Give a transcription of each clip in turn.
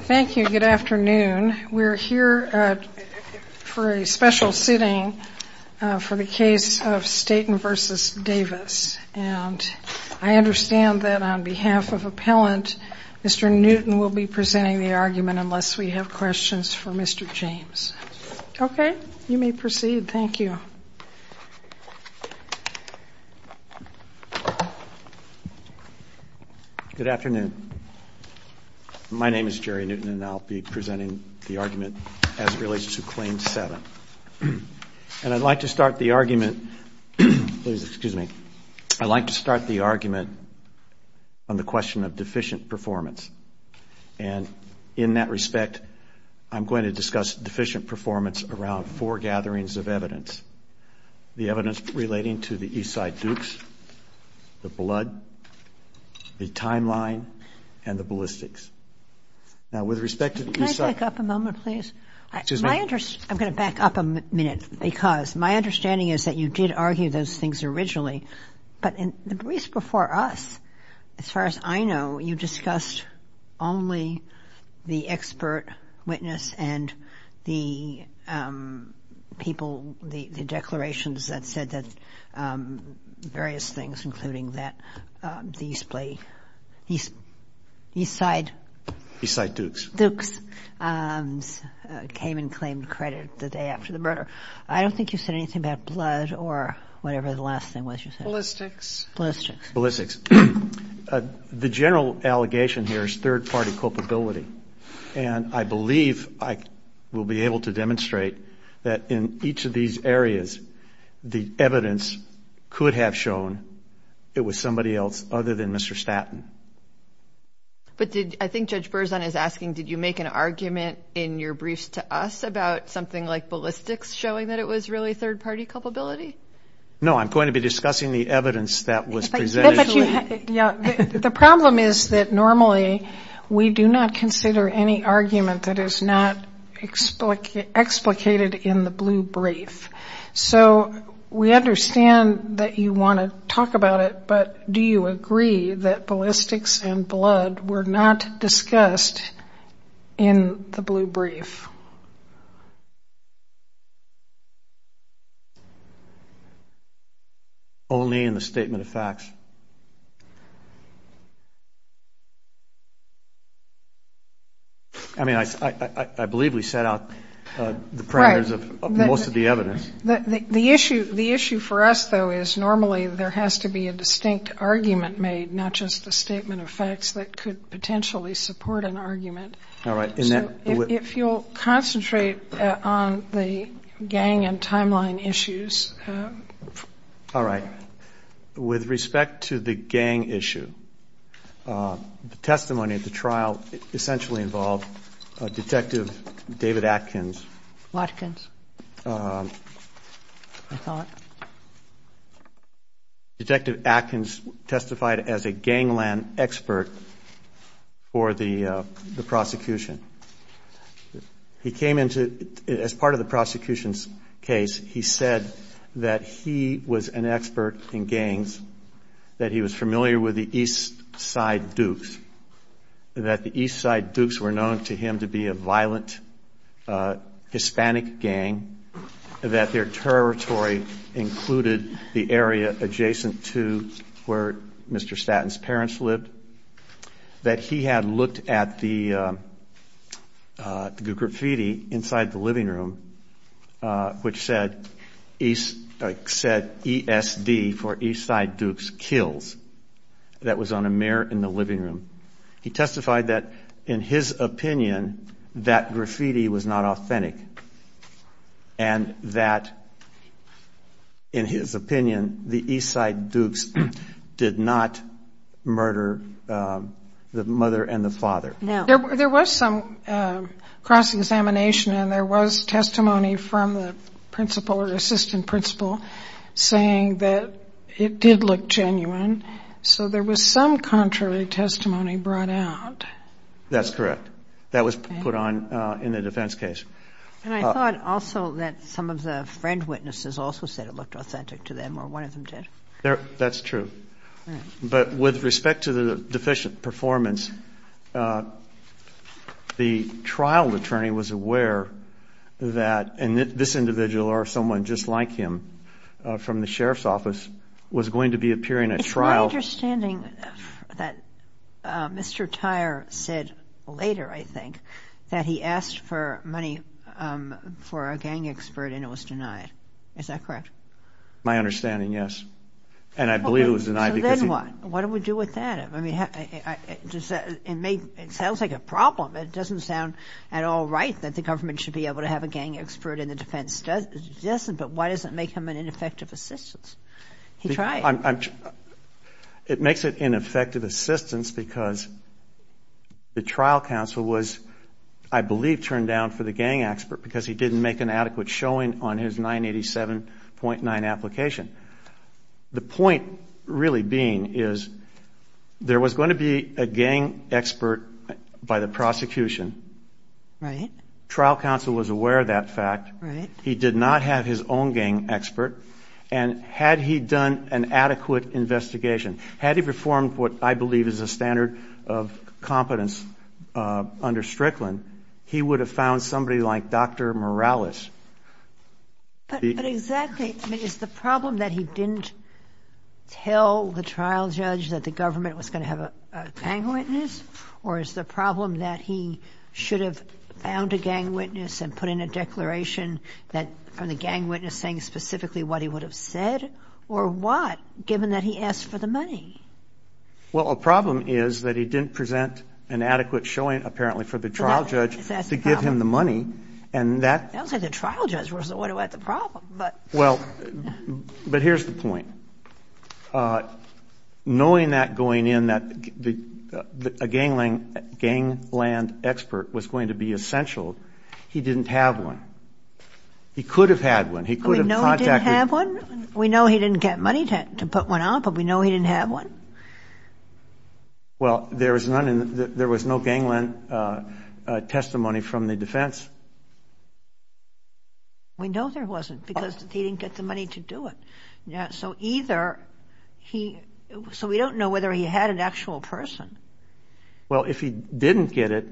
Thank you, good afternoon. We're here for a special sitting for the case of Staten v. Davis and I understand that on behalf of appellant Mr. Newton will be presenting the argument unless we have questions for Mr. James. Okay, you may proceed. Thank you. My name is Jerry Newton and I'll be presenting the argument as it relates to Claim 7. And I'd like to start the argument on the question of deficient performance. And in that respect, I'm going to discuss deficient performance around four gatherings of evidence. The evidence relating to the Eastside Dukes, the blood, the timeline, and the ballistics. Now with respect to the Eastside... Can I back up a moment, please? Excuse me. I'm going to back up a minute because my understanding is that you did argue those things originally. But in the briefs before us, as far as I know, you discussed only the expert witness and the people, the declarations that you said that various things, including that Eastside Dukes came and claimed credit the day after the murder. I don't think you said anything about blood or whatever the last thing was you said. Ballistics. Ballistics. The general allegation here is third-party culpability. And I believe I will be able to could have shown it was somebody else other than Mr. Statton. But did, I think Judge Berzon is asking, did you make an argument in your briefs to us about something like ballistics showing that it was really third-party culpability? No, I'm going to be discussing the evidence that was presented. The problem is that normally we do not We understand that you want to talk about it, but do you agree that ballistics and blood were not discussed in the blue brief? Only in the statement of facts. I mean, I believe we set out the parameters of most of the evidence. The issue for us, though, is normally there has to be a distinct argument made, not just a statement of facts that could potentially support an argument. So if you'll concentrate on the gang and timeline issues. All right. With respect to the gang issue, the testimony of the trial essentially involved Detective David Atkins. Atkins, I thought. Detective Atkins testified as a gangland expert for the prosecution. He came into, as part of the prosecution's case, he said that he was an expert in gangs, that he was familiar with the East Side Dukes, were known to him to be a violent Hispanic gang, that their territory included the area adjacent to where Mr. Statton's parents lived, that he had looked at the graffiti inside the living room, which said ESD for East Side Dukes Kills. That was on a mirror in the living room. He testified that, in his opinion, that graffiti was not authentic, and that, in his opinion, the East Side Dukes did not murder the mother and the father. There was some cross-examination, and there was testimony from the principal or assistant principal saying that it did look genuine. So there was some contrary testimony brought out. That's correct. That was put on in the defense case. And I thought also that some of the friend witnesses also said it looked authentic to them, or one of them did. That's true. But with respect to the deficient performance, the trial attorney was aware that this individual, or someone just like him, from the sheriff's office, was going to be appearing at trial. It's my understanding that Mr. Tyer said later, I think, that he asked for money for a gang expert, and it was denied. Is that correct? My understanding, yes. And I believe it was denied. So then what? What do we do with that? I mean, it sounds like a problem. It doesn't sound at all right that the government should be able to have a gang expert in the defense. It doesn't, but why does it make him an ineffective assistant? He tried. It makes it ineffective assistants because the trial counsel was, I believe, turned down for the gang expert because he didn't make an adequate showing on his 987.9 application. The point really being is there was going to be a gang expert by the prosecution. Right. Trial counsel was aware of that fact. Right. He did not have his own gang expert. And had he done an adequate investigation, had he performed what I believe is a standard of competence under Strickland, he would have found somebody like Dr. Morales. But exactly, is the problem that he didn't tell the trial judge that the government was going to have a gang witness, or is the problem that he should have found a gang witness and put in a declaration from the gang witness saying specifically what he would have said, or what, given that he asked for the money? Well, a problem is that he didn't present an adequate showing, apparently, for the trial judge to give him the money. I don't think the trial judge was the one who had the problem. Well, but here's the point. Knowing that going in, that a gangland expert was going to be essential, he didn't have one. He could have had one. We know he didn't have one. Well, there was no gangland testimony from the defense. We know there wasn't because he didn't get the money to do it. So either he, so we don't know whether he had an actual person. Well, if he didn't get it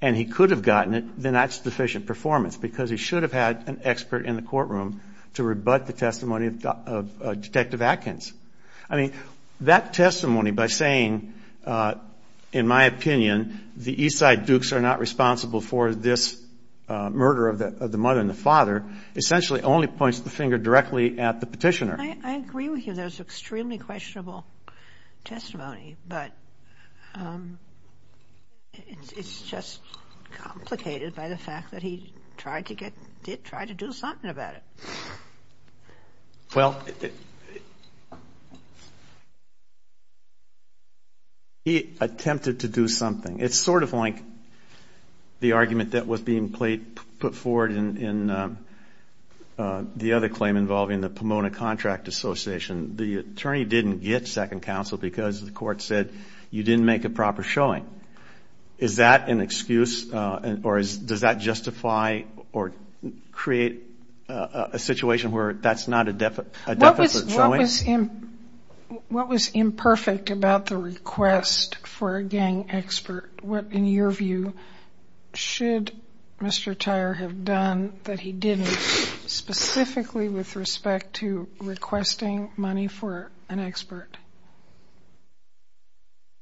and he could have gotten it, then that's deficient performance because he should have had an expert in the courtroom to rebut the testimony of Detective Atkins. I mean, that testimony by saying, in my opinion, the Eastside Dukes are not responsible for this murder of the mother and the father, essentially only points the finger directly at the petitioner. I agree with you. That was extremely questionable testimony. But it's just complicated by the fact that he tried to get, did try to do something about it. Well, he attempted to do something. It's sort of like the argument that was being put forward in the other claim involving the Pomona Contract Association. The attorney didn't get second counsel because the court said you didn't make a proper showing. Is that an excuse or does that justify or create a situation where that's not a deficit showing? What was imperfect about the request for a gang expert? What, in your view, should Mr. Tyer have done that he didn't, specifically with respect to requesting money for an expert?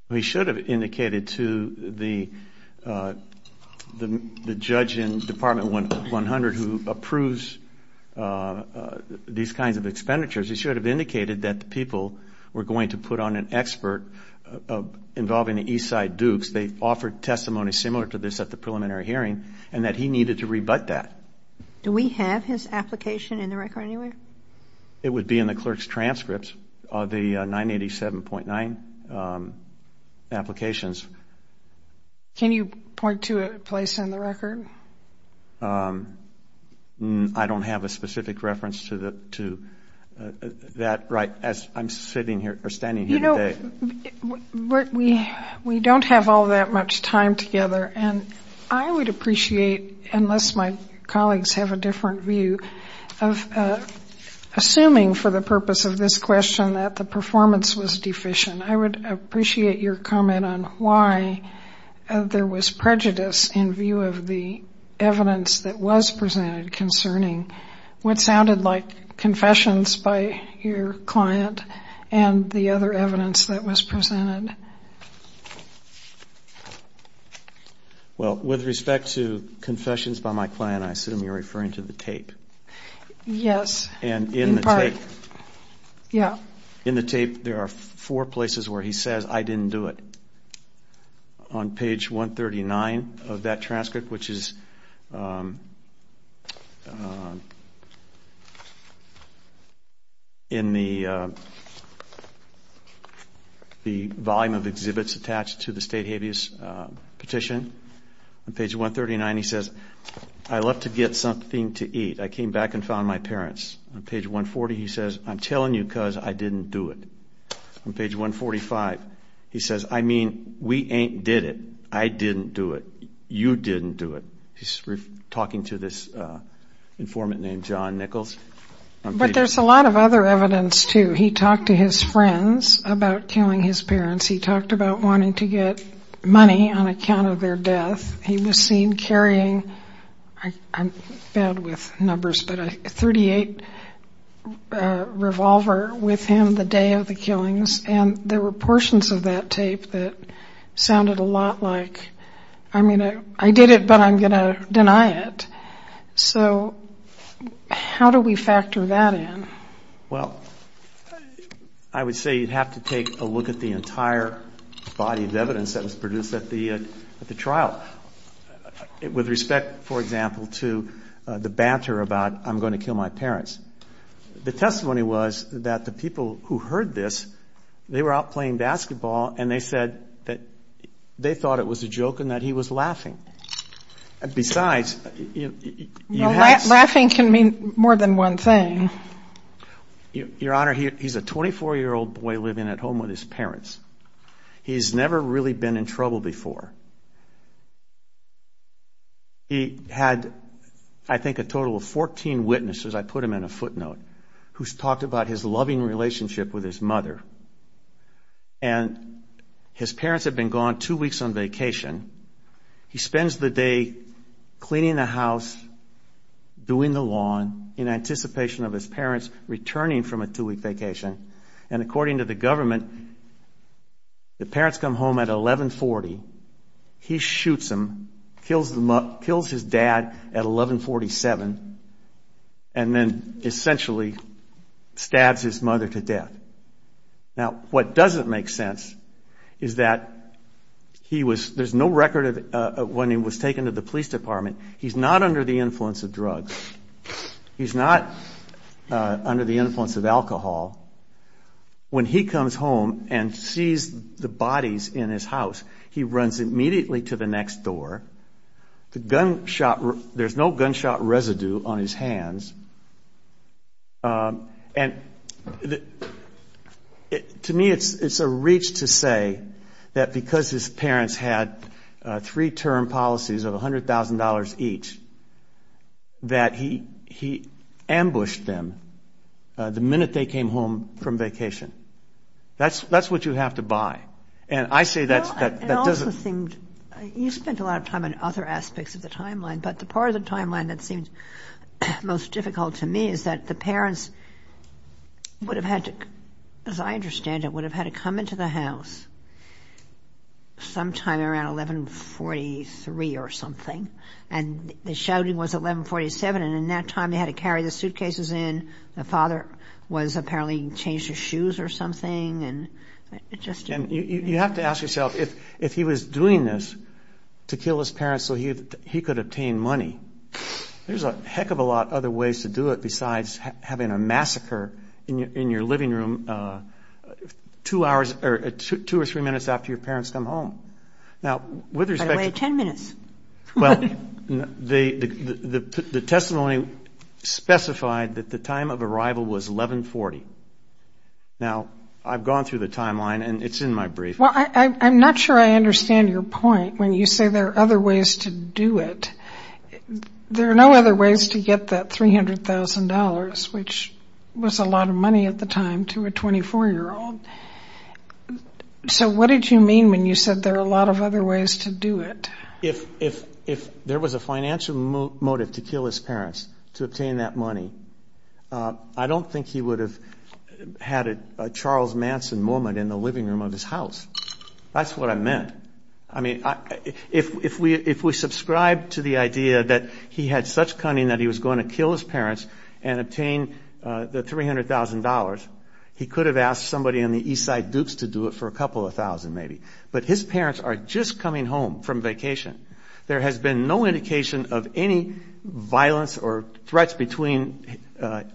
He should have indicated to the judge in Department 100 who approves these kinds of expenditures, he should have indicated that the people were going to put on an expert involving the Eastside Dukes. They offered testimony similar to this at the preliminary hearing and that he needed to rebut that. Do we have his application in the record anywhere? It would be in the clerk's transcripts of the 987.9 applications. Can you point to a place in the record? I don't have a specific reference to that right as I'm sitting here or standing here today. You know, we don't have all that much time together, and I would appreciate, unless my colleagues have a different view, of assuming for the purpose of this question that the performance was deficient. I would appreciate your comment on why there was prejudice in view of the evidence that was presented concerning what sounded like confessions by your client and the other evidence that was presented. Well, with respect to confessions by my client, I assume you're referring to the tape. Yes. And in the tape, there are four places where he says, I didn't do it. On page 139 of that transcript, which is in the volume of exhibits attached to the state habeas petition. On page 139, he says, I left to get something to eat. I came back and found my parents. On page 140, he says, I'm telling you because I didn't do it. On page 145, he says, I mean, we ain't did it. I didn't do it. You didn't do it. He's talking to this informant named John Nichols. But there's a lot of other evidence, too. He talked to his friends about killing his parents. He talked about wanting to get money on account of their death. He was seen carrying, I'm bad with numbers, but a .38 revolver with him the day of the killings. And there were portions of that tape that sounded a lot like, I mean, I did it, but I'm going to deny it. So how do we factor that in? Well, I would say you'd have to take a look at the entire body of evidence that was produced at the trial. With respect, for example, to the banter about I'm going to kill my parents, the testimony was that the people who heard this, they were out playing basketball, and they said that they thought it was a joke and that he was laughing. Besides... Laughing can mean more than one thing. Your Honor, he's a 24-year-old boy living at home with his parents. He's never really been in trouble before. He had, I think, a total of 14 witnesses, I put them in a footnote, who talked about his loving relationship with his mother. And his parents had been gone two weeks on vacation. He spends the day cleaning the house, doing the lawn, in anticipation of his parents returning from a two-week vacation. And according to the government, the parents come home at 1140. He shoots them, kills his dad at 1147, and then essentially stabs his mother to death. Now, what doesn't make sense is that he was... There's no record of when he was taken to the police department. He's not under the influence of drugs. He's not under the influence of alcohol. When he comes home and sees the bodies in his house, he runs immediately to the next door. There's no gunshot residue on his hands. And to me, it's a reach to say that because his parents had three-term policies of $100,000 each, that he ambushed them the minute they came home from vacation. That's what you have to buy. And I say that doesn't... Well, it also seemed... You spent a lot of time on other aspects of the timeline, but the part of the timeline that seems most difficult to me is that the parents would have had to... As I understand it, would have had to come into the house sometime around 1143 or something. And the shouting was at 1147, and in that time, they had to carry the suitcases in. The father was apparently changed his shoes or something, and it just... And you have to ask yourself, if he was doing this to kill his parents so he could obtain money, there's a heck of a lot of other ways to do it besides having a massacre in your living room two or three minutes after your parents come home. Now, with respect to... By the way, 10 minutes. Well, the testimony specified that the time of arrival was 1140. Now, I've gone through the timeline, and it's in my brief. Well, I'm not sure I understand your point when you say there are other ways to do it. There are no other ways to get that $300,000, which was a lot of money at the time, to a 24-year-old. So what did you mean when you said there are a lot of other ways to do it? If there was a financial motive to kill his parents to obtain that money, I don't think he would have had a Charles Manson moment in the living room of his house. That's what I meant. I mean, if we subscribe to the idea that he had such cunning that he was going to kill his parents and obtain the $300,000, he could have asked somebody on the East Side Dukes to do it for a couple of thousand maybe. But his parents are just coming home from vacation. There has been no indication of any violence or threats between the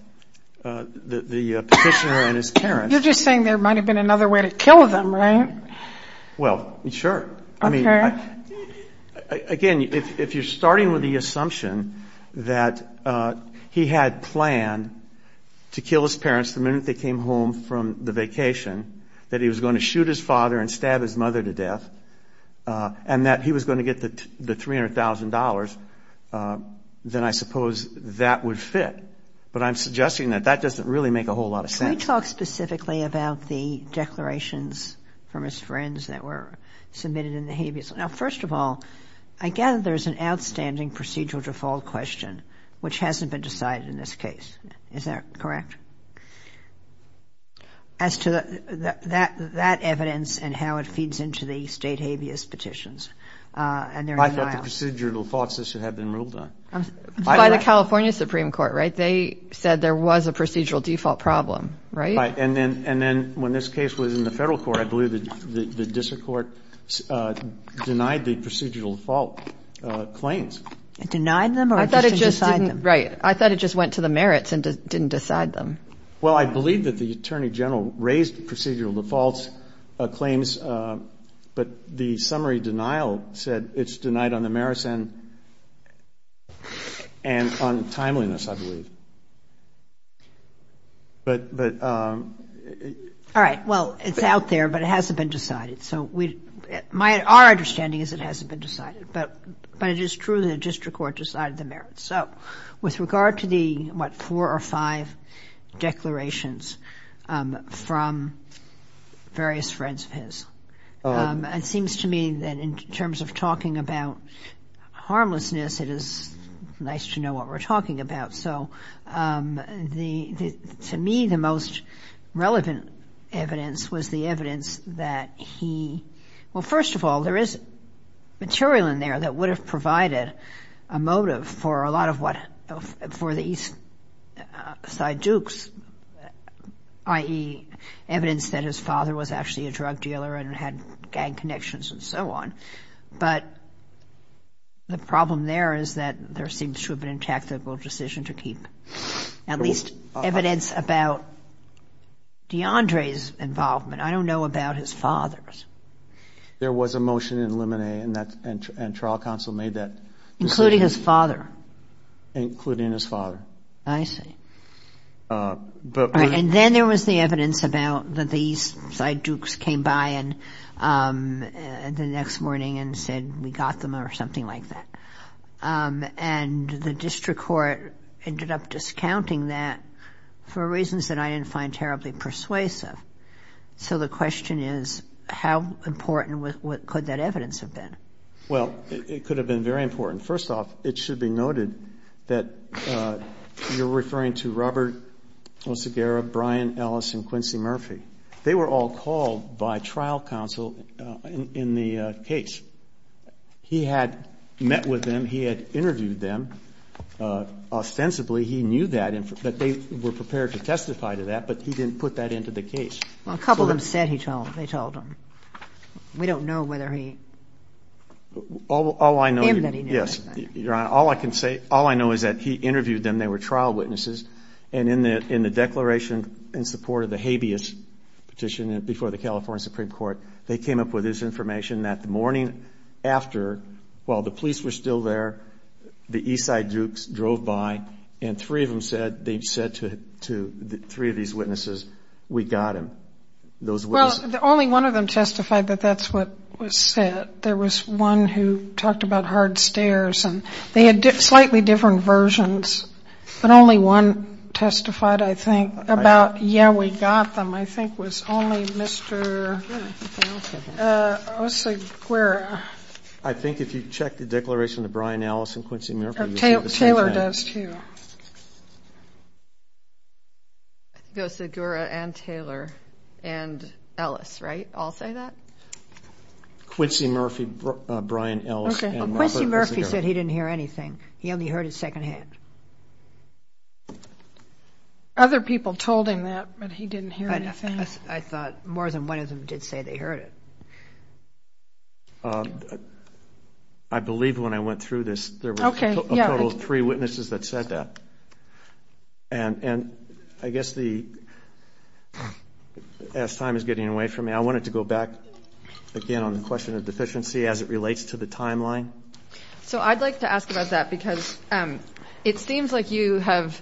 petitioner and his parents. You're just saying there might have been another way to kill them, right? Well, sure. Okay. Again, if you're starting with the assumption that he had planned to kill his parents the minute they came home from the vacation, that he was going to shoot his father and stab his mother to death, and that he was going to get the $300,000, then I suppose that would fit. But I'm suggesting that that doesn't really make a whole lot of sense. Can we talk specifically about the declarations from his friends that were submitted in the habeas? Now, first of all, I gather there's an outstanding procedural default question, which hasn't been decided in this case. Is that correct? As to that evidence and how it feeds into the state habeas petitions and their denial. I thought the procedural defaults should have been ruled on. By the California Supreme Court, right? They said there was a procedural default problem, right? Right. And then when this case was in the federal court, I believe the district court denied the procedural default claims. Denied them or just didn't decide them? Well, I believe that the attorney general raised procedural defaults claims, but the summary denial said it's denied on the merits and on timeliness, I believe. But. All right. Well, it's out there, but it hasn't been decided. So our understanding is it hasn't been decided, but it is true the district court decided the merits. So with regard to the, what, four or five declarations from various friends of his, it seems to me that in terms of talking about harmlessness, it is nice to know what we're talking about. So to me, the most relevant evidence was the evidence that he. Well, first of all, there is material in there that would have provided a motive for a lot of what, for the East Side Dukes, i.e. evidence that his father was actually a drug dealer and had gang connections and so on. But the problem there is that there seems to have been a tactical decision to keep at least evidence about DeAndre's involvement. I don't know about his father's. There was a motion in Lemonet and trial counsel made that. Including his father. Including his father. I see. And then there was the evidence about that the East Side Dukes came by the next morning and said, we got them or something like that. And the district court ended up discounting that for reasons that I didn't find terribly persuasive. So the question is, how important could that evidence have been? Well, it could have been very important. First off, it should be noted that you're referring to Robert Osagara, Brian Ellis, and Quincy Murphy. They were all called by trial counsel in the case. He had met with them. He had interviewed them. Ostensibly, he knew that. But they were prepared to testify to that. But he didn't put that into the case. Well, a couple of them said they told him. We don't know whether he... All I know is that he interviewed them. They were trial witnesses. And in the declaration in support of the habeas petition before the California Supreme Court, they came up with this information that the morning after, while the police were still there, the East Side Dukes drove by and three of them said to three of these witnesses, we got him. Well, only one of them testified that that's what was said. There was one who talked about hard stairs. And they had slightly different versions. But only one testified, I think, about, yeah, we got them. I think it was only Mr. Osagura. I think if you check the declaration of Brian Ellis and Quincy Murphy, you'll see the same thing. Taylor does, too. Osagura and Taylor and Ellis, right? All say that? Quincy Murphy, Brian Ellis, and Robert Osagura. Quincy Murphy said he didn't hear anything. He only heard it secondhand. Other people told him that, but he didn't hear anything? I thought more than one of them did say they heard it. I believe when I went through this, there were a total of three witnesses that said that. And I guess as time is getting away from me, I wanted to go back again on the question of deficiency as it relates to the timeline. So I'd like to ask about that because it seems like you have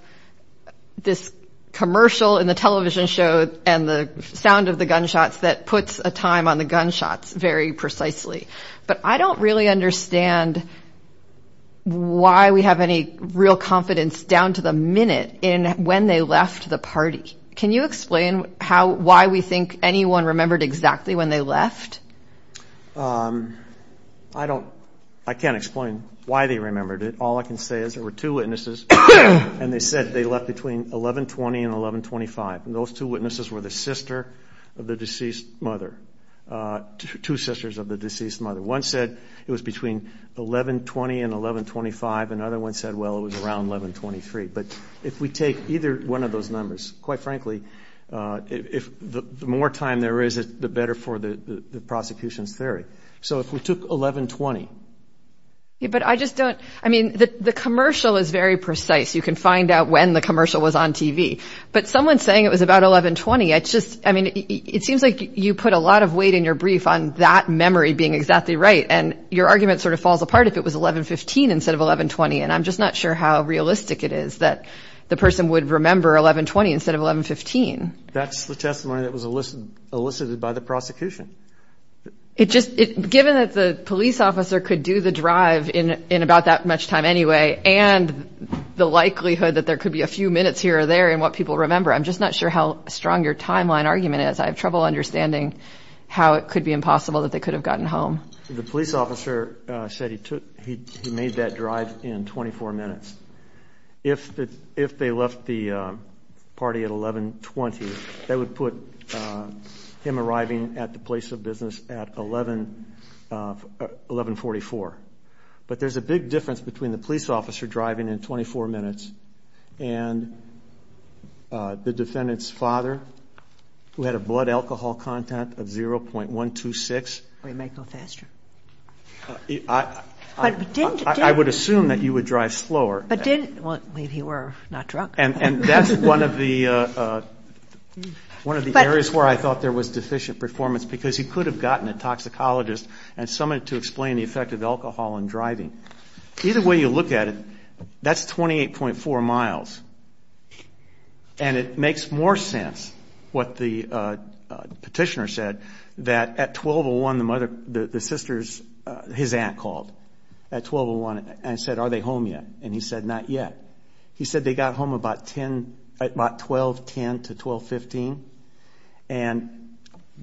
this commercial in the television show and the sound of the gunshots that puts a time on the gunshots very precisely. But I don't really understand why we have any real confidence down to the minute in when they left the party. Can you explain why we think anyone remembered exactly when they left? I can't explain why they remembered it. All I can say is there were two witnesses, and they said they left between 1120 and 1125. And those two witnesses were the sister of the deceased mother, two sisters of the deceased mother. One said it was between 1120 and 1125. Another one said, well, it was around 1123. But if we take either one of those numbers, quite frankly, the more time there is, the better for the prosecution's theory. So if we took 1120. But I just don't, I mean, the commercial is very precise. You can find out when the commercial was on TV. But someone saying it was about 1120, it's just, I mean, it seems like you put a lot of weight in your brief on that memory being exactly right. And your argument sort of falls apart if it was 1115 instead of 1120. And I'm just not sure how realistic it is that the person would remember 1120 instead of 1115. That's the testimony that was elicited by the prosecution. Given that the police officer could do the drive in about that much time anyway, and the likelihood that there could be a few minutes here or there in what people remember, I'm just not sure how strong your timeline argument is. I have trouble understanding how it could be impossible that they could have gotten home. The police officer said he made that drive in 24 minutes. If they left the party at 1120, that would put him arriving at the place of business at 1144. But there's a big difference between the police officer driving in 24 minutes and the defendant's father, who had a blood alcohol content of 0.126. Or he might go faster. I would assume that you would drive slower. Well, he were not drunk. And that's one of the areas where I thought there was deficient performance because he could have gotten a toxicologist and someone to explain the effect of alcohol on driving. Either way you look at it, that's 28.4 miles. And it makes more sense, what the petitioner said, that at 1201 his aunt called at 1201 and said, Are they home yet? And he said, Not yet. He said they got home about 1210 to 1215. And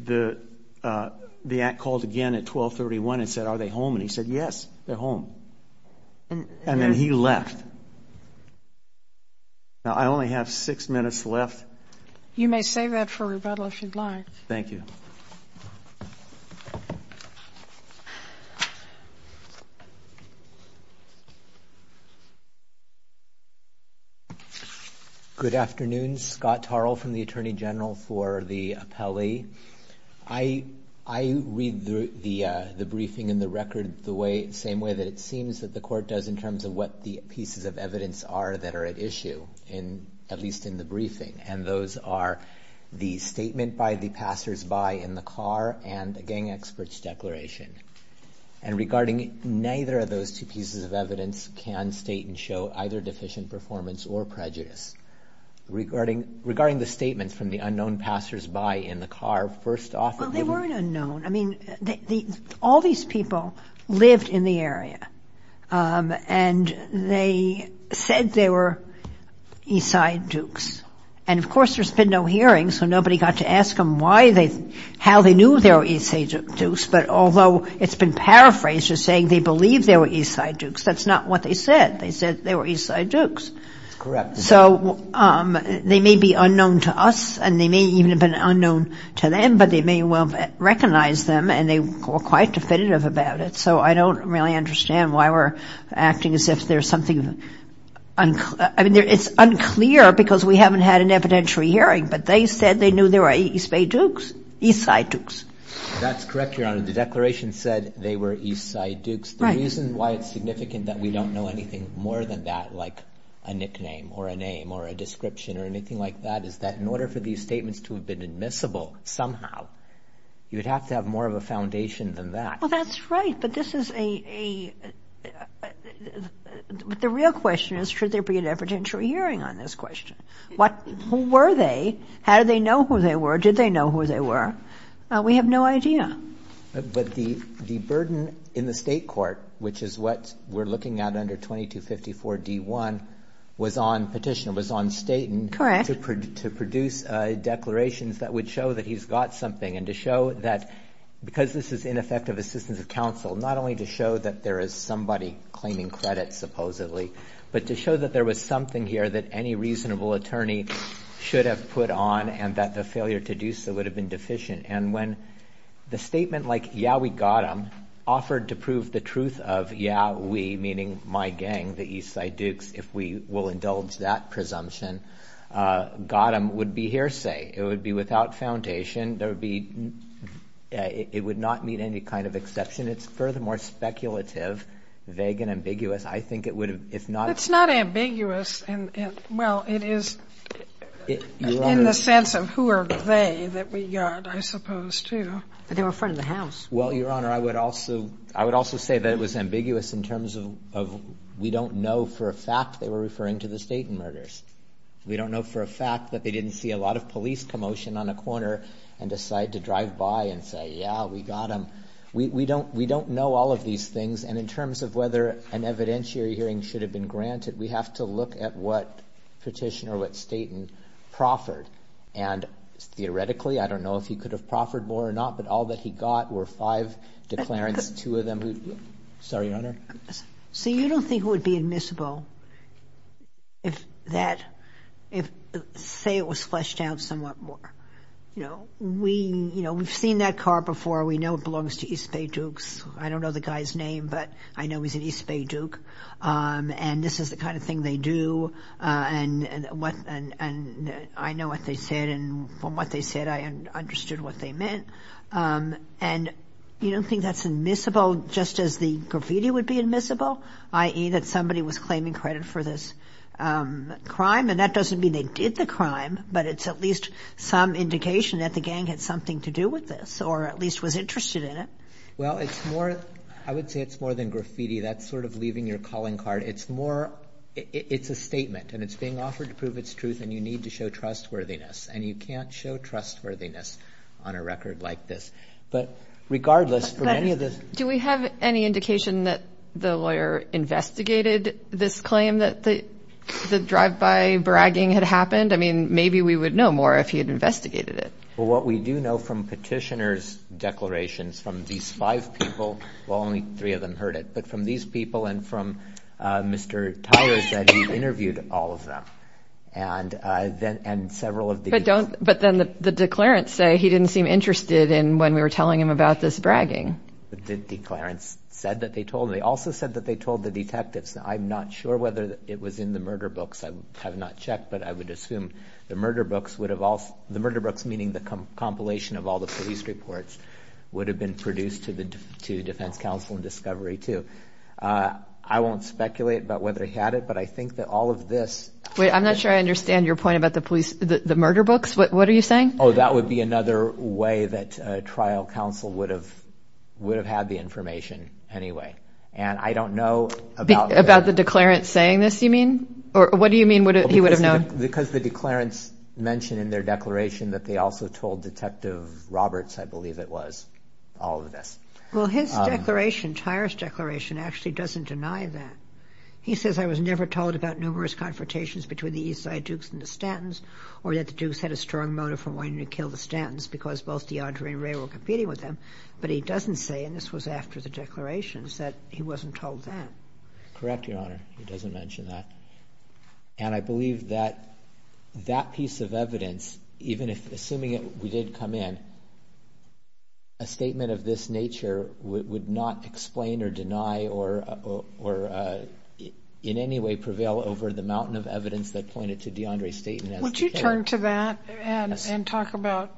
the aunt called again at 1231 and said, Are they home? And he said, Yes, they're home. And then he left. Now, I only have six minutes left. You may save that for rebuttal if you'd like. Thank you. Good afternoon. Scott Tarl from the Attorney General for the appellee. I read the briefing and the record the same way that it seems that the court does in terms of what the pieces of evidence are that are at issue, at least in the briefing. And those are the statement by the passersby in the car and the gang expert's declaration. And regarding neither of those two pieces of evidence can state and show either deficient performance or prejudice. Regarding the statements from the unknown passersby in the car, first off- Well, they weren't unknown. I mean, all these people lived in the area. And they said they were Eastside Dukes. And, of course, there's been no hearing, so nobody got to ask them why they, how they knew they were Eastside Dukes. But although it's been paraphrased as saying they believed they were Eastside Dukes, that's not what they said. They said they were Eastside Dukes. That's correct. So they may be unknown to us, and they may even have been unknown to them, but they may well recognize them, and they were quite definitive about it. So I don't really understand why we're acting as if there's something unclear. I mean, it's unclear because we haven't had an evidentiary hearing, but they said they knew they were Eastside Dukes. That's correct, Your Honor. The declaration said they were Eastside Dukes. The reason why it's significant that we don't know anything more than that, like a nickname or a name or a description or anything like that, is that in order for these statements to have been admissible somehow, you would have to have more of a foundation than that. Well, that's right. But this is a – the real question is should there be an evidentiary hearing on this question? Who were they? How did they know who they were? Did they know who they were? We have no idea. But the burden in the state court, which is what we're looking at under 2254 D1, was on Petitioner, was on Staton. Correct. To produce declarations that would show that he's got something and to show that because this is ineffective assistance of counsel, not only to show that there is somebody claiming credit supposedly, but to show that there was something here that any reasonable attorney should have put on and that the failure to do so would have been deficient. And when the statement like, yeah, we got them, offered to prove the truth of yeah, we, meaning my gang, the East Side Dukes, if we will indulge that presumption, got them would be hearsay. It would be without foundation. There would be – it would not meet any kind of exception. It's furthermore speculative, vague, and ambiguous. I think it would have, if not – It's not ambiguous. Well, it is in the sense of who are they that we got, I suppose, too. But they were a friend of the House. Well, Your Honor, I would also say that it was ambiguous in terms of we don't know for a fact they were referring to the Staton murders. We don't know for a fact that they didn't see a lot of police commotion on a corner and decide to drive by and say, yeah, we got them. We don't know all of these things. And in terms of whether an evidentiary hearing should have been granted, we have to look at what petitioner, what Staton, proffered. And theoretically, I don't know if he could have proffered more or not, but all that he got were five declarants, two of them who – Sorry, Your Honor. See, you don't think it would be admissible if that – say it was fleshed out somewhat more. We've seen that car before. We know it belongs to East Bay Dukes. I don't know the guy's name, but I know he's an East Bay Duke. And this is the kind of thing they do. And I know what they said, and from what they said, I understood what they meant. And you don't think that's admissible just as the graffiti would be admissible, i.e., that somebody was claiming credit for this crime? And that doesn't mean they did the crime, but it's at least some indication that the gang had something to do with this or at least was interested in it. Well, it's more – I would say it's more than graffiti. That's sort of leaving your calling card. It's more – it's a statement, and it's being offered to prove its truth, and you need to show trustworthiness, and you can't show trustworthiness on a record like this. But regardless, for many of the – Do we have any indication that the lawyer investigated this claim, that the drive-by bragging had happened? I mean, maybe we would know more if he had investigated it. Well, what we do know from petitioner's declarations from these five people – well, only three of them heard it – but from these people and from Mr. Tyers that he interviewed all of them. And several of the – But then the declarants say he didn't seem interested in when we were telling him about this bragging. The declarants said that they told – they also said that they told the detectives. I'm not sure whether it was in the murder books. I have not checked, but I would assume the murder books would have – the murder books, meaning the compilation of all the police reports, would have been produced to the defense counsel in discovery, too. I won't speculate about whether he had it, but I think that all of this – Wait, I'm not sure I understand your point about the murder books. What are you saying? Oh, that would be another way that trial counsel would have had the information anyway. And I don't know about – About the declarant saying this, you mean? Or what do you mean he would have known? Because the declarants mentioned in their declaration that they also told Detective Roberts, I believe it was, all of this. Well, his declaration, Tyre's declaration, actually doesn't deny that. He says, I was never told about numerous confrontations between the East Side Dukes and the Stantons, or that the Dukes had a strong motive for wanting to kill the Stantons because both DeAndre and Ray were competing with them. But he doesn't say – and this was after the declaration – that he wasn't told that. Correct, Your Honor. He doesn't mention that. And I believe that that piece of evidence, even assuming it did come in, a statement of this nature would not explain or deny or in any way prevail over the mountain of evidence that pointed to DeAndre's statement. Would you turn to that and talk about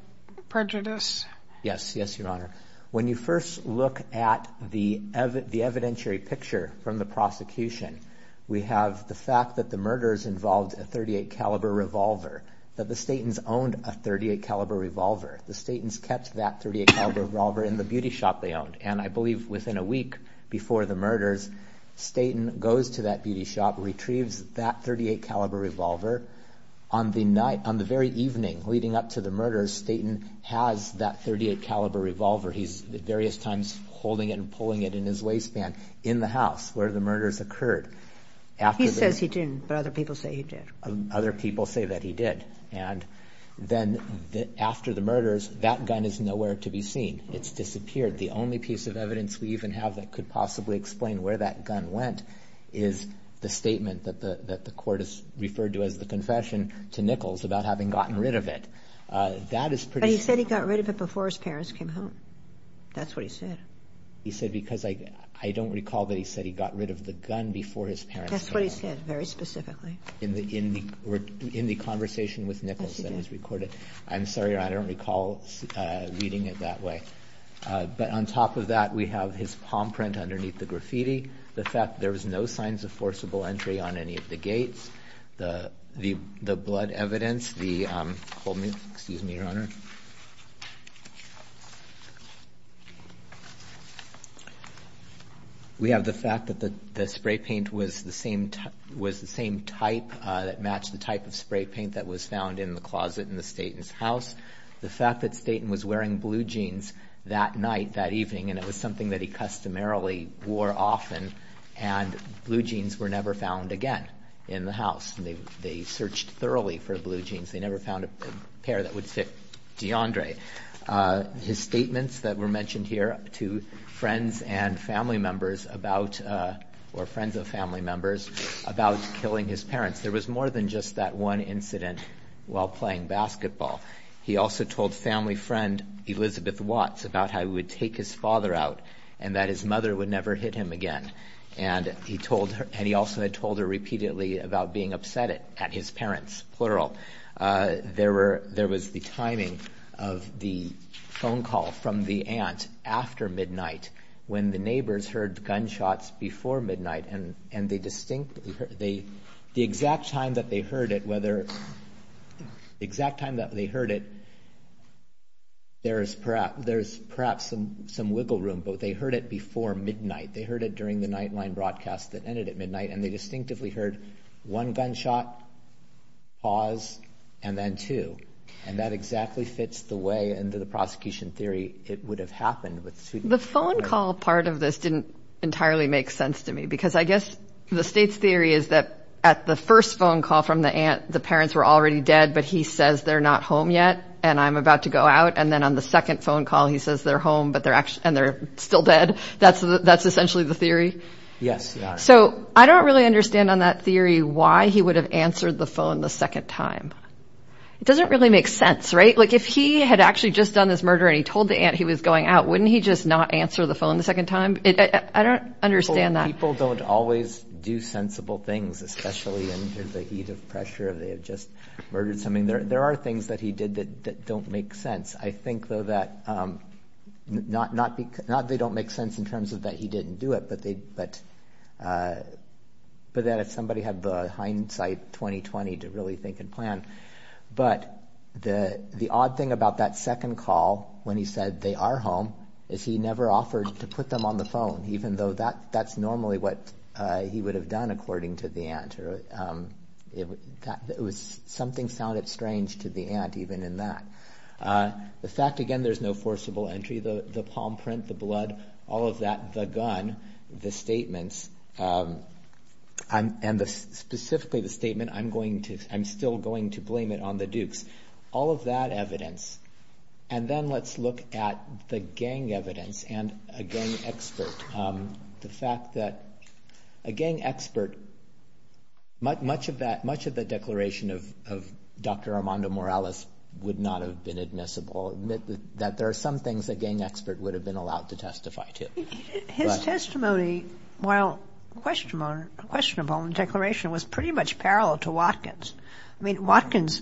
prejudice? Yes, yes, Your Honor. When you first look at the evidentiary picture from the prosecution, we have the fact that the murders involved a .38-caliber revolver, that the Stantons owned a .38-caliber revolver. The Stantons kept that .38-caliber revolver in the beauty shop they owned. And I believe within a week before the murders, Stanton goes to that beauty shop, retrieves that .38-caliber revolver. On the night, on the very evening leading up to the murders, Stanton has that .38-caliber revolver. He's at various times holding it and pulling it in his waistband in the house where the murders occurred. He says he didn't, but other people say he did. Other people say that he did. And then after the murders, that gun is nowhere to be seen. It's disappeared. The only piece of evidence we even have that could possibly explain where that gun went is the statement that the court has referred to as the confession to Nichols about having gotten rid of it. But he said he got rid of it before his parents came home. That's what he said. He said, because I don't recall that he said he got rid of the gun before his parents came home. That's what he said, very specifically. In the conversation with Nichols that was recorded. I'm sorry, I don't recall reading it that way. But on top of that, we have his palm print underneath the graffiti, the fact that there was no signs of forcible entry on any of the gates, the blood evidence, the, hold me, excuse me, Your Honor. We have the fact that the spray paint was the same type that matched the type of spray paint that was found in the closet in the Staton's house. The fact that Staton was wearing blue jeans that night, that evening, and it was something that he customarily wore often, and blue jeans were never found again in the house. They searched thoroughly for blue jeans. They never found a pair that would fit DeAndre. His statements that were mentioned here to friends and family members about, or friends of family members, about killing his parents. There was more than just that one incident while playing basketball. He also told family friend Elizabeth Watts about how he would take his father out and that his mother would never hit him again. And he also had told her repeatedly about being upset at his parents, plural. There was the timing of the phone call from the aunt after midnight when the neighbors heard gunshots before midnight, and the exact time that they heard it, whether, the exact time that they heard it, there's perhaps some wiggle room, but they heard it before midnight. They heard it during the nightline broadcast that ended at midnight, and they distinctively heard one gunshot, pause, and then two. And that exactly fits the way into the prosecution theory it would have happened. The phone call part of this didn't entirely make sense to me, because I guess the state's theory is that at the first phone call from the aunt, the parents were already dead, but he says they're not home yet, and I'm about to go out, and then on the second phone call he says they're home, and they're still dead. That's essentially the theory? Yes. So I don't really understand on that theory why he would have answered the phone the second time. It doesn't really make sense, right? Like if he had actually just done this murder and he told the aunt he was going out, wouldn't he just not answer the phone the second time? I don't understand that. People don't always do sensible things, especially in the heat of pressure. They have just murdered something. There are things that he did that don't make sense. I think, though, that not that they don't make sense in terms of that he didn't do it, but that if somebody had the hindsight, 20-20, to really think and plan. But the odd thing about that second call when he said they are home is he never offered to put them on the phone, even though that's normally what he would have done, according to the aunt. Something sounded strange to the aunt even in that. The fact, again, there's no forcible entry. The palm print, the blood, all of that, the gun, the statements, and specifically the statement, I'm still going to blame it on the Dukes. All of that evidence. And then let's look at the gang evidence and a gang expert. The fact that a gang expert, much of the declaration of Dr. Armando Morales would not have been admissible. There are some things a gang expert would have been allowed to testify to. His testimony, while questionable in declaration, was pretty much parallel to Watkins. Watkins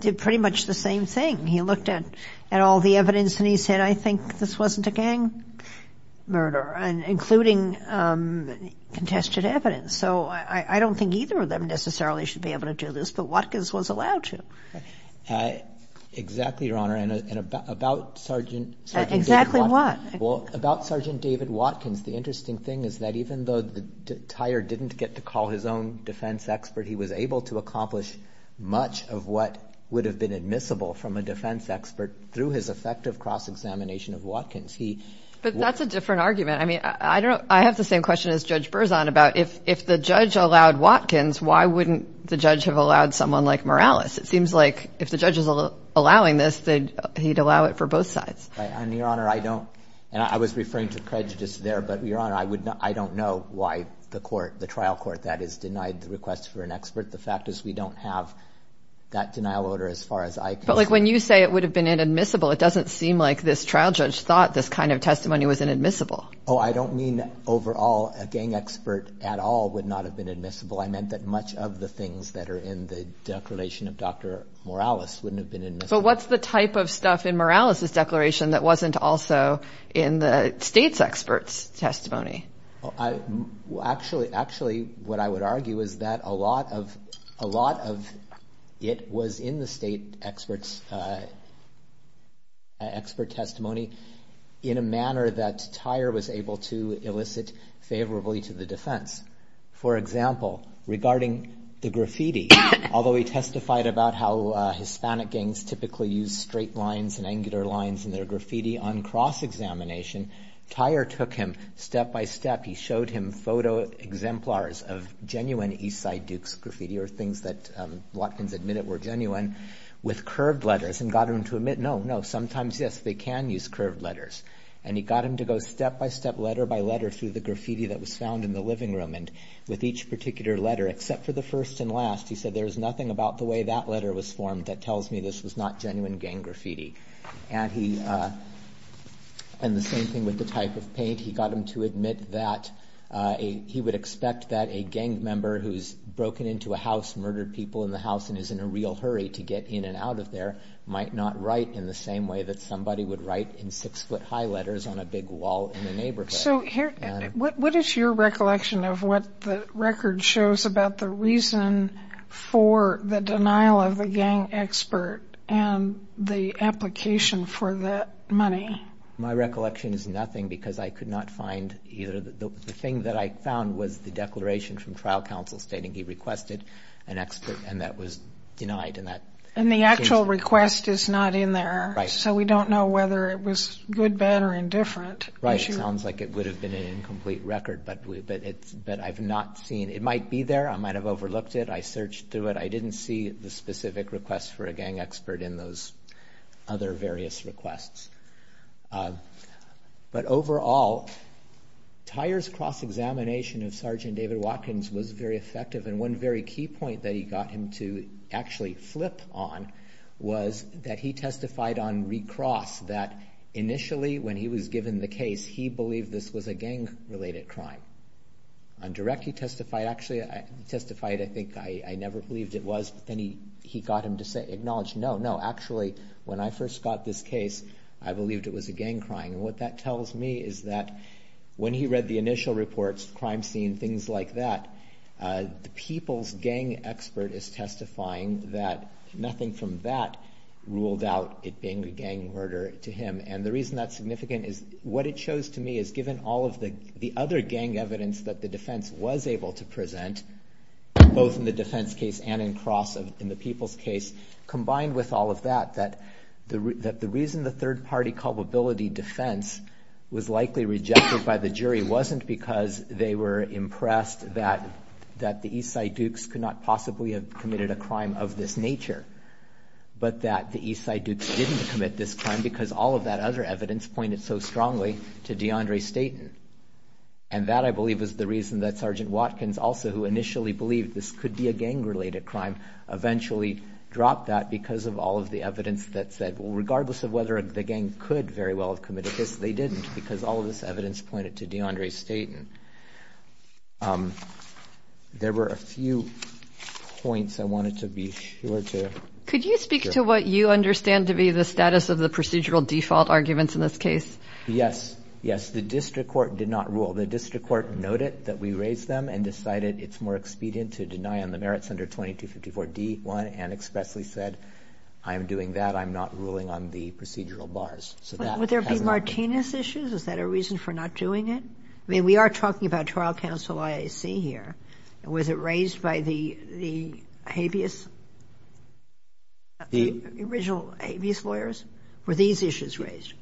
did pretty much the same thing. He looked at all the evidence and he said, I think this wasn't a gang murder, including contested evidence. So I don't think either of them necessarily should be able to do this, but Watkins was allowed to. Exactly, Your Honor. And about Sergeant David Watkins. Exactly what? Well, about Sergeant David Watkins, the interesting thing is that even though Tyer didn't get to call his own defense expert, he was able to accomplish much of what would have been admissible from a defense expert through his effective cross-examination of Watkins. But that's a different argument. I have the same question as Judge Berzon about if the judge allowed Watkins, why wouldn't the judge have allowed someone like Morales? It seems like if the judge is allowing this, he'd allow it for both sides. Your Honor, I don't, and I was referring to prejudice there, but, Your Honor, I don't know why the trial court that is denied the request for an expert. The fact is we don't have that denial order as far as I can see. But when you say it would have been inadmissible, it doesn't seem like this trial judge thought this kind of testimony was inadmissible. Oh, I don't mean overall a gang expert at all would not have been admissible. I meant that much of the things that are in the declaration of Dr. Morales wouldn't have been admissible. But what's the type of stuff in Morales' declaration that wasn't also in the state's expert's testimony? Actually, what I would argue is that a lot of it was in the state expert's testimony in a manner that Tyre was able to elicit favorably to the defense. For example, regarding the graffiti, although he testified about how Hispanic gangs typically use straight lines and angular lines in their graffiti on cross-examination, Tyre took him step by step. He showed him photo exemplars of genuine East Side Dukes graffiti or things that Watkins admitted were genuine with curved letters and got him to admit, no, no, sometimes, yes, they can use curved letters. And he got him to go step by step, letter by letter, through the graffiti that was found in the living room. And with each particular letter, except for the first and last, he said there was nothing about the way that letter was formed that tells me this was not genuine gang graffiti. And the same thing with the type of paint. He got him to admit that he would expect that a gang member who's broken into a house, murdered people in the house, and is in a real hurry to get in and out of there might not write in the same way that somebody would write in six-foot-high letters on a big wall in a neighborhood. So what is your recollection of what the record shows about the reason for the denial of the gang expert and the application for the money? My recollection is nothing because I could not find either. The thing that I found was the declaration from trial counsel stating he requested an expert and that was denied. And the actual request is not in there. So we don't know whether it was good, bad, or indifferent. Right. It sounds like it would have been an incomplete record, but I've not seen it. It might be there. I might have overlooked it. I searched through it. I didn't see the specific request for a gang expert in those other various requests. But overall, Tyer's cross-examination of Sergeant David Watkins was very effective. And one very key point that he got him to actually flip on was that he testified on recross that initially, when he was given the case, he believed this was a gang-related crime. On direct, he testified. Actually, he testified, I think, I never believed it was. But then he got him to acknowledge, no, no, actually, when I first got this case, I believed it was a gang crime. And what that tells me is that when he read the initial reports, crime scene, things like that, the people's gang expert is testifying that nothing from that ruled out it being a gang murder to him. And the reason that's significant is what it shows to me is, given all of the other gang evidence that the defense was able to present, both in the defense case and in the people's case, combined with all of that, that the reason the third-party culpability defense was likely rejected by the jury wasn't because they were impressed that the East Side Dukes could not possibly have committed a crime of this nature, but that the East Side Dukes didn't commit this crime because all of that other evidence pointed so strongly to DeAndre Staten. And that, I believe, is the reason that Sergeant Watkins, also, who initially believed this could be a gang-related crime, eventually dropped that because of all of the evidence that said, regardless of whether the gang could very well have committed this, they didn't because all of this evidence pointed to DeAndre Staten. There were a few points I wanted to be sure to share. Could you speak to what you understand to be the status of the procedural default arguments in this case? Yes, yes. The district court did not rule. The district court noted that we raised them and decided it's more expedient to deny on the merits under 2254 D-1 and expressly said, I'm doing that, I'm not ruling on the procedural bars. Would there be Martinez issues? Is that a reason for not doing it? I mean, we are talking about trial counsel IAC here. Was it raised by the habeas, the original habeas lawyers? Were these issues raised?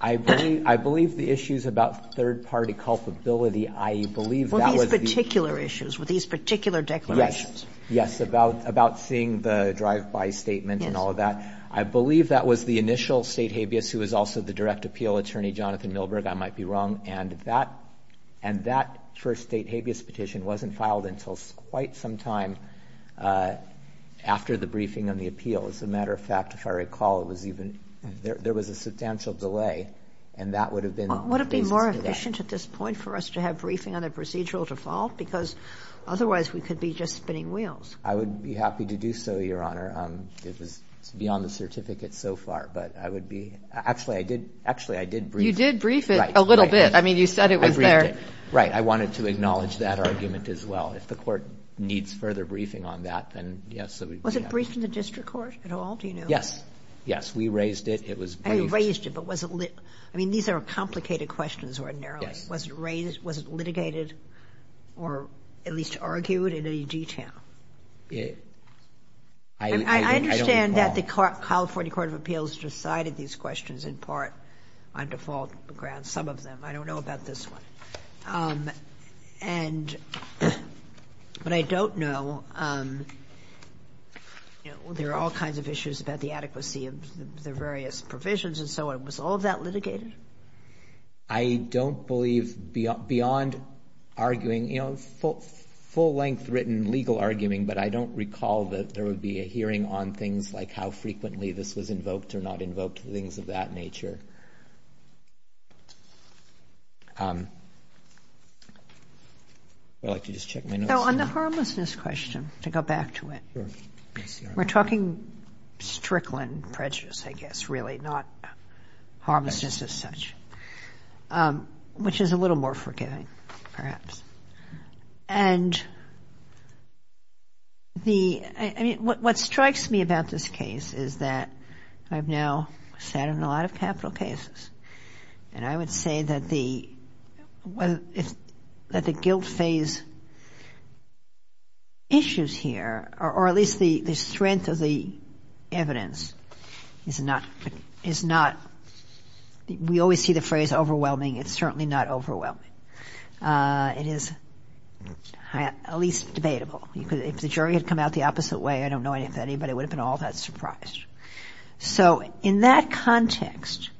I believe the issues about third-party culpability, I believe that was the... Well, these particular issues, were these particular declarations. Yes, yes, about seeing the drive-by statement and all of that. I believe that was the initial state habeas who was also the direct appeal attorney, Jonathan Milberg. I might be wrong. And that first state habeas petition wasn't filed until quite some time after the briefing on the appeal. As a matter of fact, if I recall, there was a substantial delay and that would have been... Would it be more efficient at this point for us to have briefing on the procedural default? Because otherwise we could be just spinning wheels. I would be happy to do so, Your Honor. It was beyond the certificate so far, but I would be... Actually, I did brief... You did brief it a little bit. I mean, you said it was there. I briefed it. Right, I wanted to acknowledge that argument as well. If the court needs further briefing on that, then yes. Was it briefed in the district court at all, do you know? Yes. Yes, we raised it. It was briefed. Raised it, but was it... I mean, these are complicated questions ordinarily. Yes. Was it raised, was it litigated or at least argued in any detail? I don't recall. I understand that the California Court of Appeals decided these questions in part on default grounds, some of them. I don't know about this one. And, but I don't know, you know, there are all kinds of issues about the adequacy of the various provisions and so on. Was all of that litigated? I don't believe beyond arguing, you know, full-length written legal arguing, but I don't recall that there would be a hearing on things like how frequently this was invoked or not invoked, things of that nature. Would you like to just check my notes? No, on the harmlessness question, to go back to it. Sure. We're talking strickland prejudice, I guess, really, not harmlessness as such, which is a little more forgiving, perhaps. And the, I mean, what strikes me about this case is that I've now sat in a lot of capital cases, and I would say that the guilt phase issues here, or at least the strength of the evidence is not, we always see the phrase overwhelming. It's certainly not overwhelming. It is at least debatable. If the jury had come out the opposite way, I don't know if anybody would have been all that surprised. So in that context,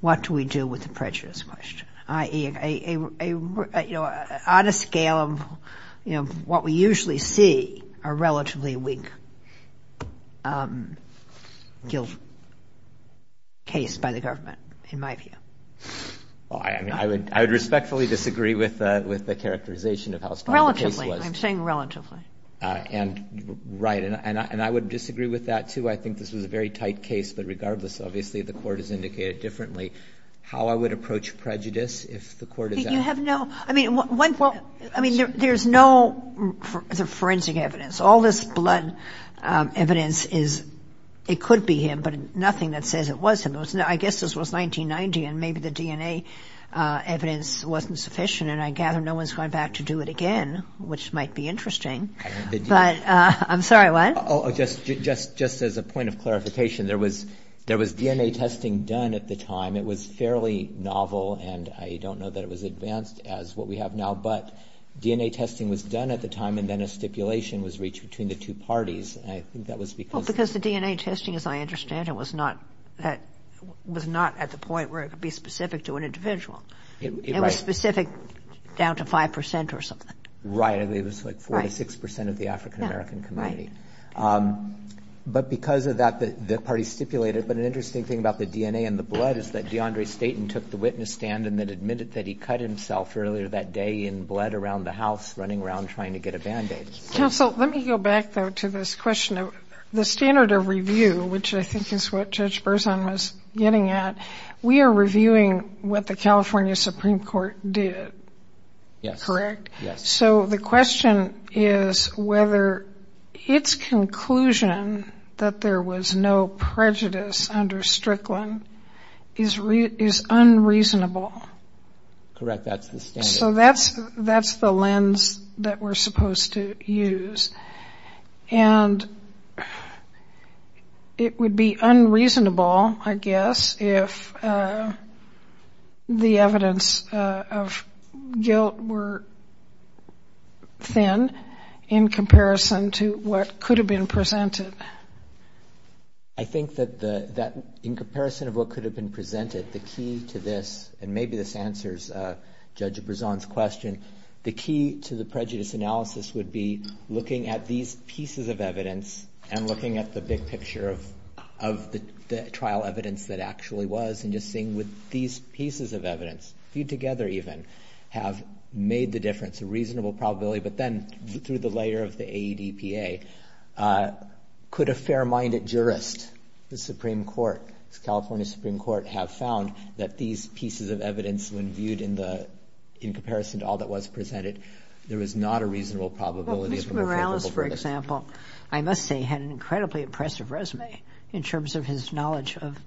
what do we do with the prejudice question? I.e., on a scale of what we usually see, a relatively weak guilt case by the government, in my view. I would respectfully disagree with the characterization of how strong the case was. Relatively. I'm saying relatively. And, right. And I would disagree with that, too. I think this was a very tight case, but regardless, obviously, the court has indicated differently how I would approach prejudice if the court had. You have no, I mean, there's no forensic evidence. All this blood evidence is, it could be him, but nothing that says it was him. I guess this was 1990, and maybe the DNA evidence wasn't sufficient, and I gather no one's going back to do it again, which might be interesting. But, I'm sorry, what? Just as a point of clarification, there was DNA testing done at the time. It was fairly novel, and I don't know that it was advanced as what we have now, but DNA testing was done at the time, and then a stipulation was reached between the two parties, and I think that was because... Well, because the DNA testing, as I understand it, was not at the point where it could be specific to an individual. It was specific down to 5 percent or something. Right, and it was like 4 to 6 percent of the African-American community. But because of that, the parties stipulated... But an interesting thing about the DNA and the blood is that DeAndre Staton took the witness stand and then admitted that he cut himself earlier that day in blood around the house running around trying to get a Band-Aid. Counsel, let me go back, though, to this question of the standard of review, which I think is what Judge Berzon was getting at. We are reviewing what the California Supreme Court did, correct? Yes, yes. So the question is whether its conclusion that there was no prejudice under Strickland is unreasonable. Correct, that's the standard. So that's the lens that we're supposed to use. And it would be unreasonable, I guess, if the evidence of guilt were thin in comparison to what could have been presented. I think that in comparison of what could have been presented, the key to this, and maybe this answers Judge Berzon's question, the key to the prejudice analysis would be looking at these pieces of evidence and looking at the big picture of the trial evidence that actually was and just seeing would these pieces of evidence, viewed together even, have made the difference, a reasonable probability, but then through the layer of the AEDPA. Could a fair-minded jurist, the Supreme Court, the California Supreme Court, have found that these pieces of evidence, when viewed in comparison to all that was presented, there is not a reasonable probability of a more favorable verdict? Well, Mr. Morales, for example, I must say, had an incredibly impressive resume in terms of his knowledge of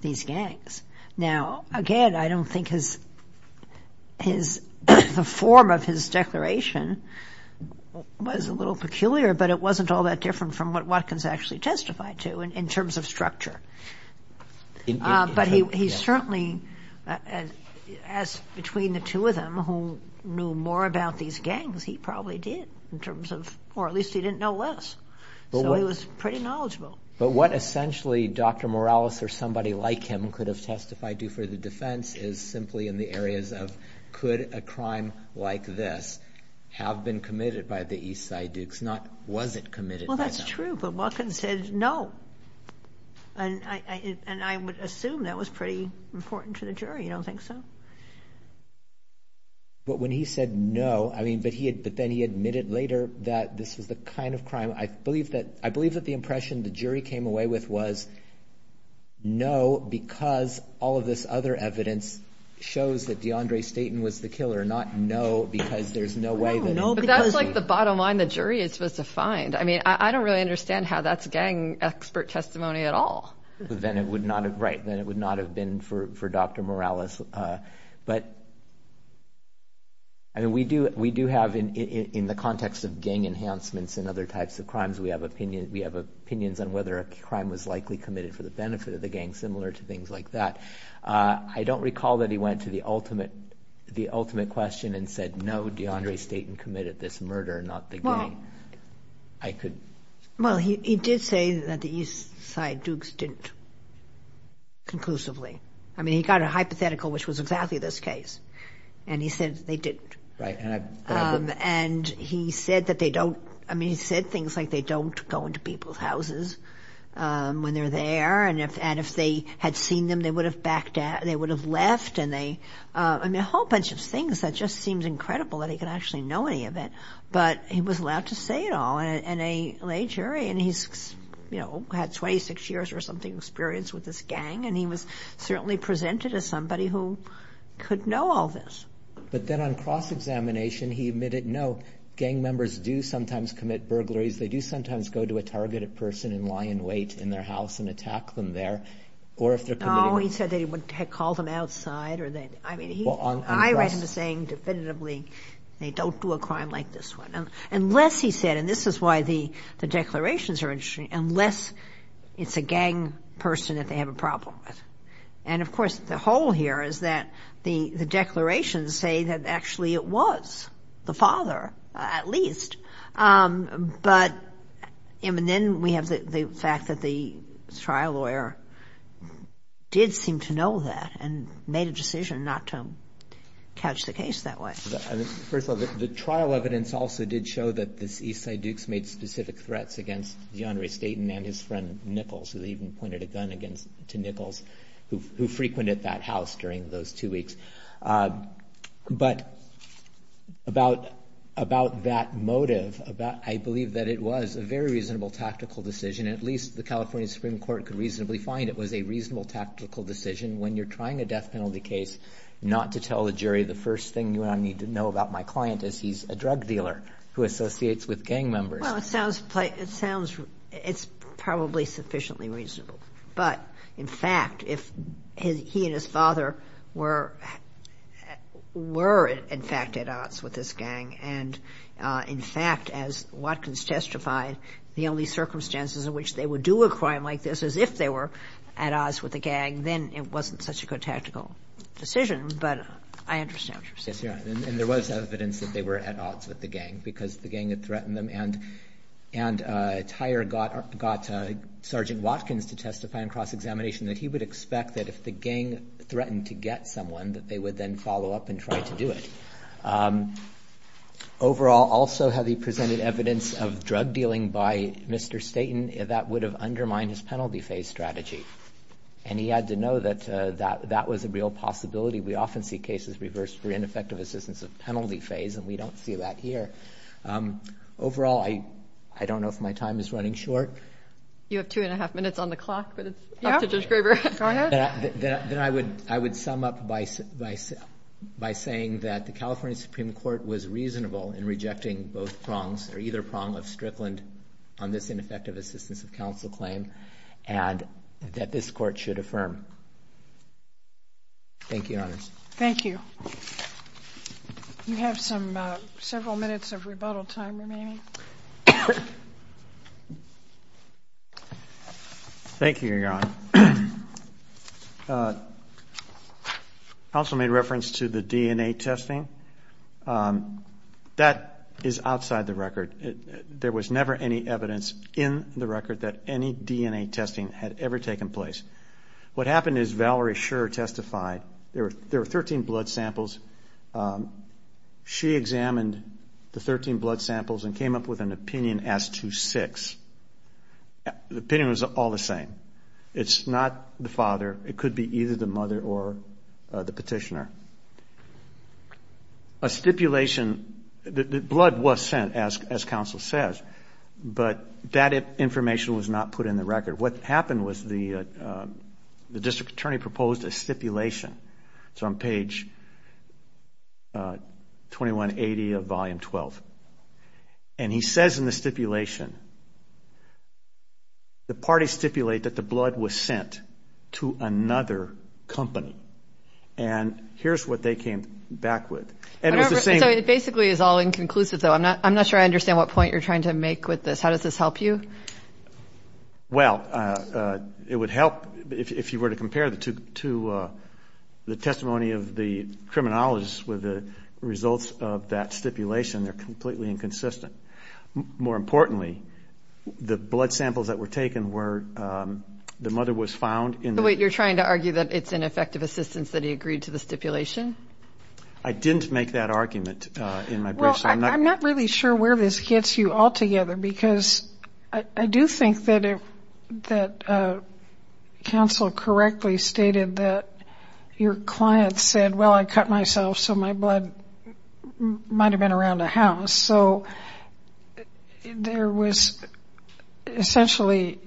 these gangs. Now, again, I don't think the form of his declaration was a little peculiar, but it wasn't all that different from what Watkins actually testified to in terms of structure. But he certainly, as between the two of them, who knew more about these gangs, he probably did in terms of, or at least he didn't know less, so he was pretty knowledgeable. But what essentially Dr. Morales or somebody like him could have testified to for the defense is simply in the areas of could a crime like this have been committed by the East Side Dukes, not was it committed by them? That's true, but Watkins said no, and I would assume that was pretty important to the jury. You don't think so? But when he said no, I mean, but then he admitted later that this was the kind of crime. I believe that the impression the jury came away with was no because all of this other evidence shows that DeAndre Staten was the killer, not no because there's no way that— No, but that's like the bottom line the jury is supposed to find. I mean, I don't really understand how that's gang expert testimony at all. Then it would not have been for Dr. Morales. But we do have in the context of gang enhancements and other types of crimes, we have opinions on whether a crime was likely committed for the benefit of the gang, similar to things like that. I don't recall that he went to the ultimate question and said, no, DeAndre Staten committed this murder, not the gang. I could— Well, he did say that the Eastside Dukes didn't conclusively. I mean, he got a hypothetical, which was exactly this case, and he said they didn't. Right, and I— And he said that they don't—I mean, he said things like they don't go into people's houses when they're there, and if they had seen them, they would have backed out, they would have left, and they—I mean, a whole bunch of things. That just seems incredible that he could actually know any of it. But he was allowed to say it all in a lay jury, and he's, you know, had 26 years or something experience with this gang, and he was certainly presented as somebody who could know all this. But then on cross-examination, he admitted, no, gang members do sometimes commit burglaries. They do sometimes go to a targeted person and lie in wait in their house and attack them there, or if they're committing— No, he said that he would have called them outside or that—I mean, he— Well, on— I read him saying definitively they don't do a crime like this one, unless he said, and this is why the declarations are interesting, unless it's a gang person that they have a problem with. And, of course, the hole here is that the declarations say that actually it was the father, at least. But—and then we have the fact that the trial lawyer did seem to know that and made a decision not to catch the case that way. First of all, the trial evidence also did show that the East Side Dukes made specific threats against DeAndre Staton and his friend Nichols, who they even pointed a gun against to Nichols, who frequented that house during those two weeks. But about that motive, I believe that it was a very reasonable tactical decision. At least the California Supreme Court could reasonably find it was a reasonable tactical decision when you're trying a death penalty case not to tell the jury, the first thing you need to know about my client is he's a drug dealer who associates with gang members. Well, it sounds—it sounds—it's probably sufficiently reasonable. But, in fact, if he and his father were in fact at odds with this gang, and, in fact, as Watkins testified, the only circumstances in which they would do a crime like this is if they were at odds with the gang, then it wasn't such a good tactical decision. But I understand what you're saying. And there was evidence that they were at odds with the gang because the gang had threatened them. And Tyer got Sergeant Watkins to testify in cross-examination that he would expect that if the gang threatened to get someone, that they would then follow up and try to do it. Overall, also, had he presented evidence of drug dealing by Mr. Staton, that would have undermined his penalty phase strategy. And he had to know that that was a real possibility. We often see cases reversed for ineffective assistance of penalty phase, and we don't see that here. Overall, I don't know if my time is running short. You have two and a half minutes on the clock, but it's up to Judge Graber. Go ahead. Then I would sum up by saying that the California Supreme Court was reasonable in rejecting both prongs or either prong of Strickland on this ineffective assistance of counsel claim and that this court should affirm. Thank you, Your Honor. Thank you. You have several minutes of rebuttal time remaining. Thank you, Your Honor. Counsel made reference to the DNA testing. That is outside the record. There was never any evidence in the record that any DNA testing had ever taken place. What happened is Valerie Scherer testified. There were 13 blood samples. She examined the 13 blood samples and came up with an opinion as to six. The opinion was all the same. It's not the father. It could be either the mother or the petitioner. A stipulation, the blood was sent, as counsel says, but that information was not put in the record. What happened was the district attorney proposed a stipulation. It's on page 2180 of Volume 12. And he says in the stipulation, the parties stipulate that the blood was sent to another company. And here's what they came back with. It basically is all inconclusive, though. I'm not sure I understand what point you're trying to make with this. How does this help you? Well, it would help if you were to compare it to the testimony of the criminologist with the results of that stipulation. They're completely inconsistent. More importantly, the blood samples that were taken were the mother was found in the... Wait, you're trying to argue that it's an effective assistance that he agreed to the stipulation? I didn't make that argument in my brief. Well, I'm not really sure where this gets you altogether, because I do think that counsel correctly stated that your client said, well, I cut myself, so my blood might have been around the house. So there was essentially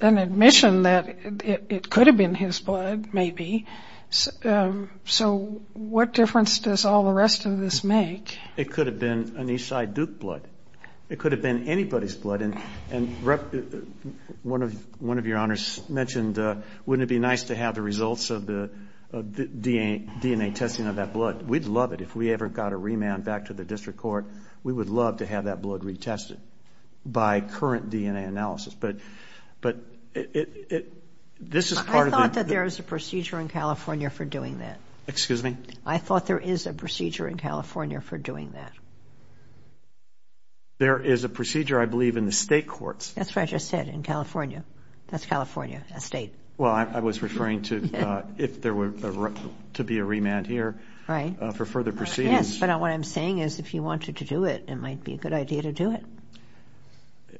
an admission that it could have been his blood, maybe. So what difference does all the rest of this make? It could have been an Eastside Duke blood. It could have been anybody's blood. And one of your honors mentioned, wouldn't it be nice to have the results of the DNA testing of that blood? We'd love it. If we ever got a remand back to the district court, we would love to have that blood retested by current DNA analysis. But this is part of the... I thought that there is a procedure in California for doing that. Excuse me? I thought there is a procedure in California for doing that. There is a procedure, I believe, in the state courts. That's what I just said, in California. That's California, a state. Well, I was referring to if there were to be a remand here for further proceedings. Yes, but what I'm saying is if you wanted to do it, it might be a good idea to do it.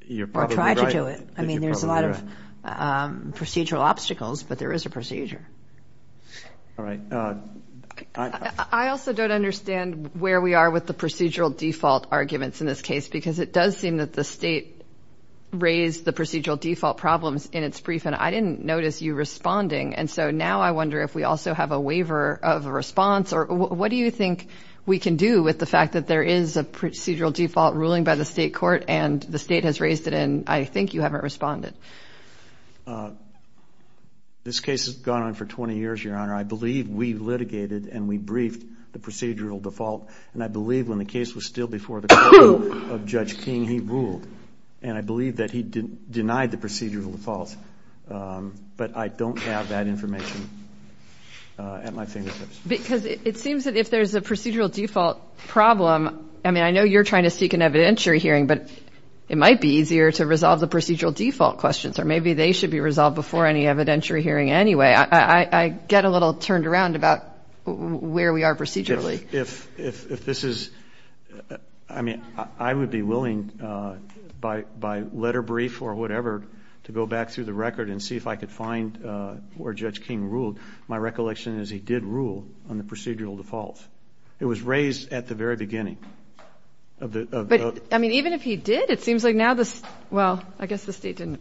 You're probably right. Or try to do it. I mean, there's a lot of procedural obstacles, but there is a procedure. All right. I also don't understand where we are with the procedural default arguments in this case because it does seem that the state raised the procedural default problems in its brief, and I didn't notice you responding. And so now I wonder if we also have a waiver of a response. What do you think we can do with the fact that there is a procedural default ruling by the state court and the state has raised it and I think you haven't responded? This case has gone on for 20 years, Your Honor. I believe we litigated and we briefed the procedural default, and I believe when the case was still before the court of Judge King, he ruled. And I believe that he denied the procedural defaults. But I don't have that information at my fingertips. Because it seems that if there's a procedural default problem, I mean, I know you're trying to seek an evidentiary hearing, but it might be easier to resolve the procedural default questions, or maybe they should be resolved before any evidentiary hearing anyway. I get a little turned around about where we are procedurally. If this is, I mean, I would be willing by letter brief or whatever to go back through the record and see if I could find where Judge King ruled. My recollection is he did rule on the procedural defaults. It was raised at the very beginning. But, I mean, even if he did, it seems like now this, well, I guess the state didn't.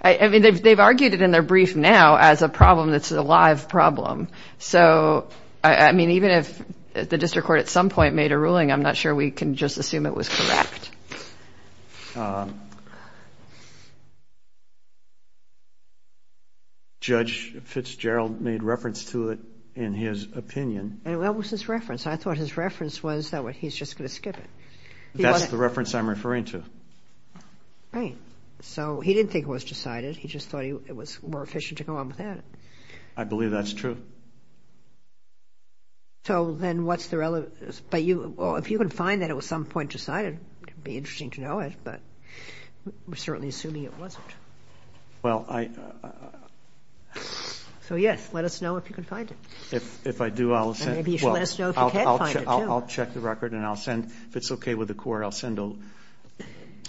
I mean, they've argued it in their brief now as a problem that's a live problem. So, I mean, even if the district court at some point made a ruling, I'm not sure we can just assume it was correct. Judge Fitzgerald made reference to it in his opinion. And what was his reference? I thought his reference was that he's just going to skip it. That's the reference I'm referring to. Right. So he didn't think it was decided. He just thought it was more efficient to go on with that. I believe that's true. So then what's the relevance? But if you can find that it was at some point decided, it would be interesting to know it. But we're certainly assuming it wasn't. Well, I... So, yes, let us know if you can find it. If I do, I'll send... And maybe you should let us know if you can't find it, too. I'll check the record and I'll send. If it's okay with the court, I'll send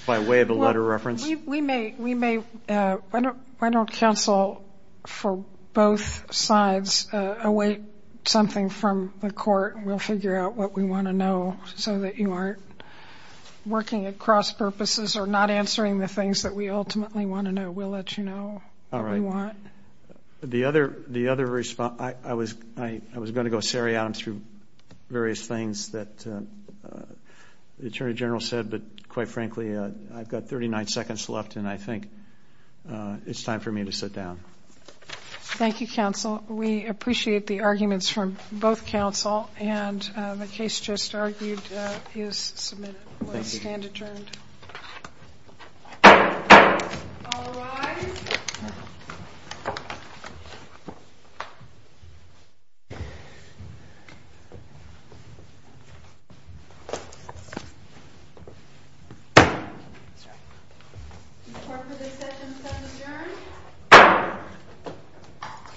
by way of a letter of reference. We may... Why don't counsel for both sides await something from the court? We'll figure out what we want to know so that you aren't working at cross-purposes or not answering the things that we ultimately want to know. We'll let you know what we want. All right. The other response... I was going to go seriatim through various things that the Attorney General said, but, quite frankly, I've got 39 seconds left, and I think it's time for me to sit down. Thank you, counsel. We appreciate the arguments from both counsel. And the case just argued is submitted. We'll stand adjourned. All rise. The court for this session stands adjourned.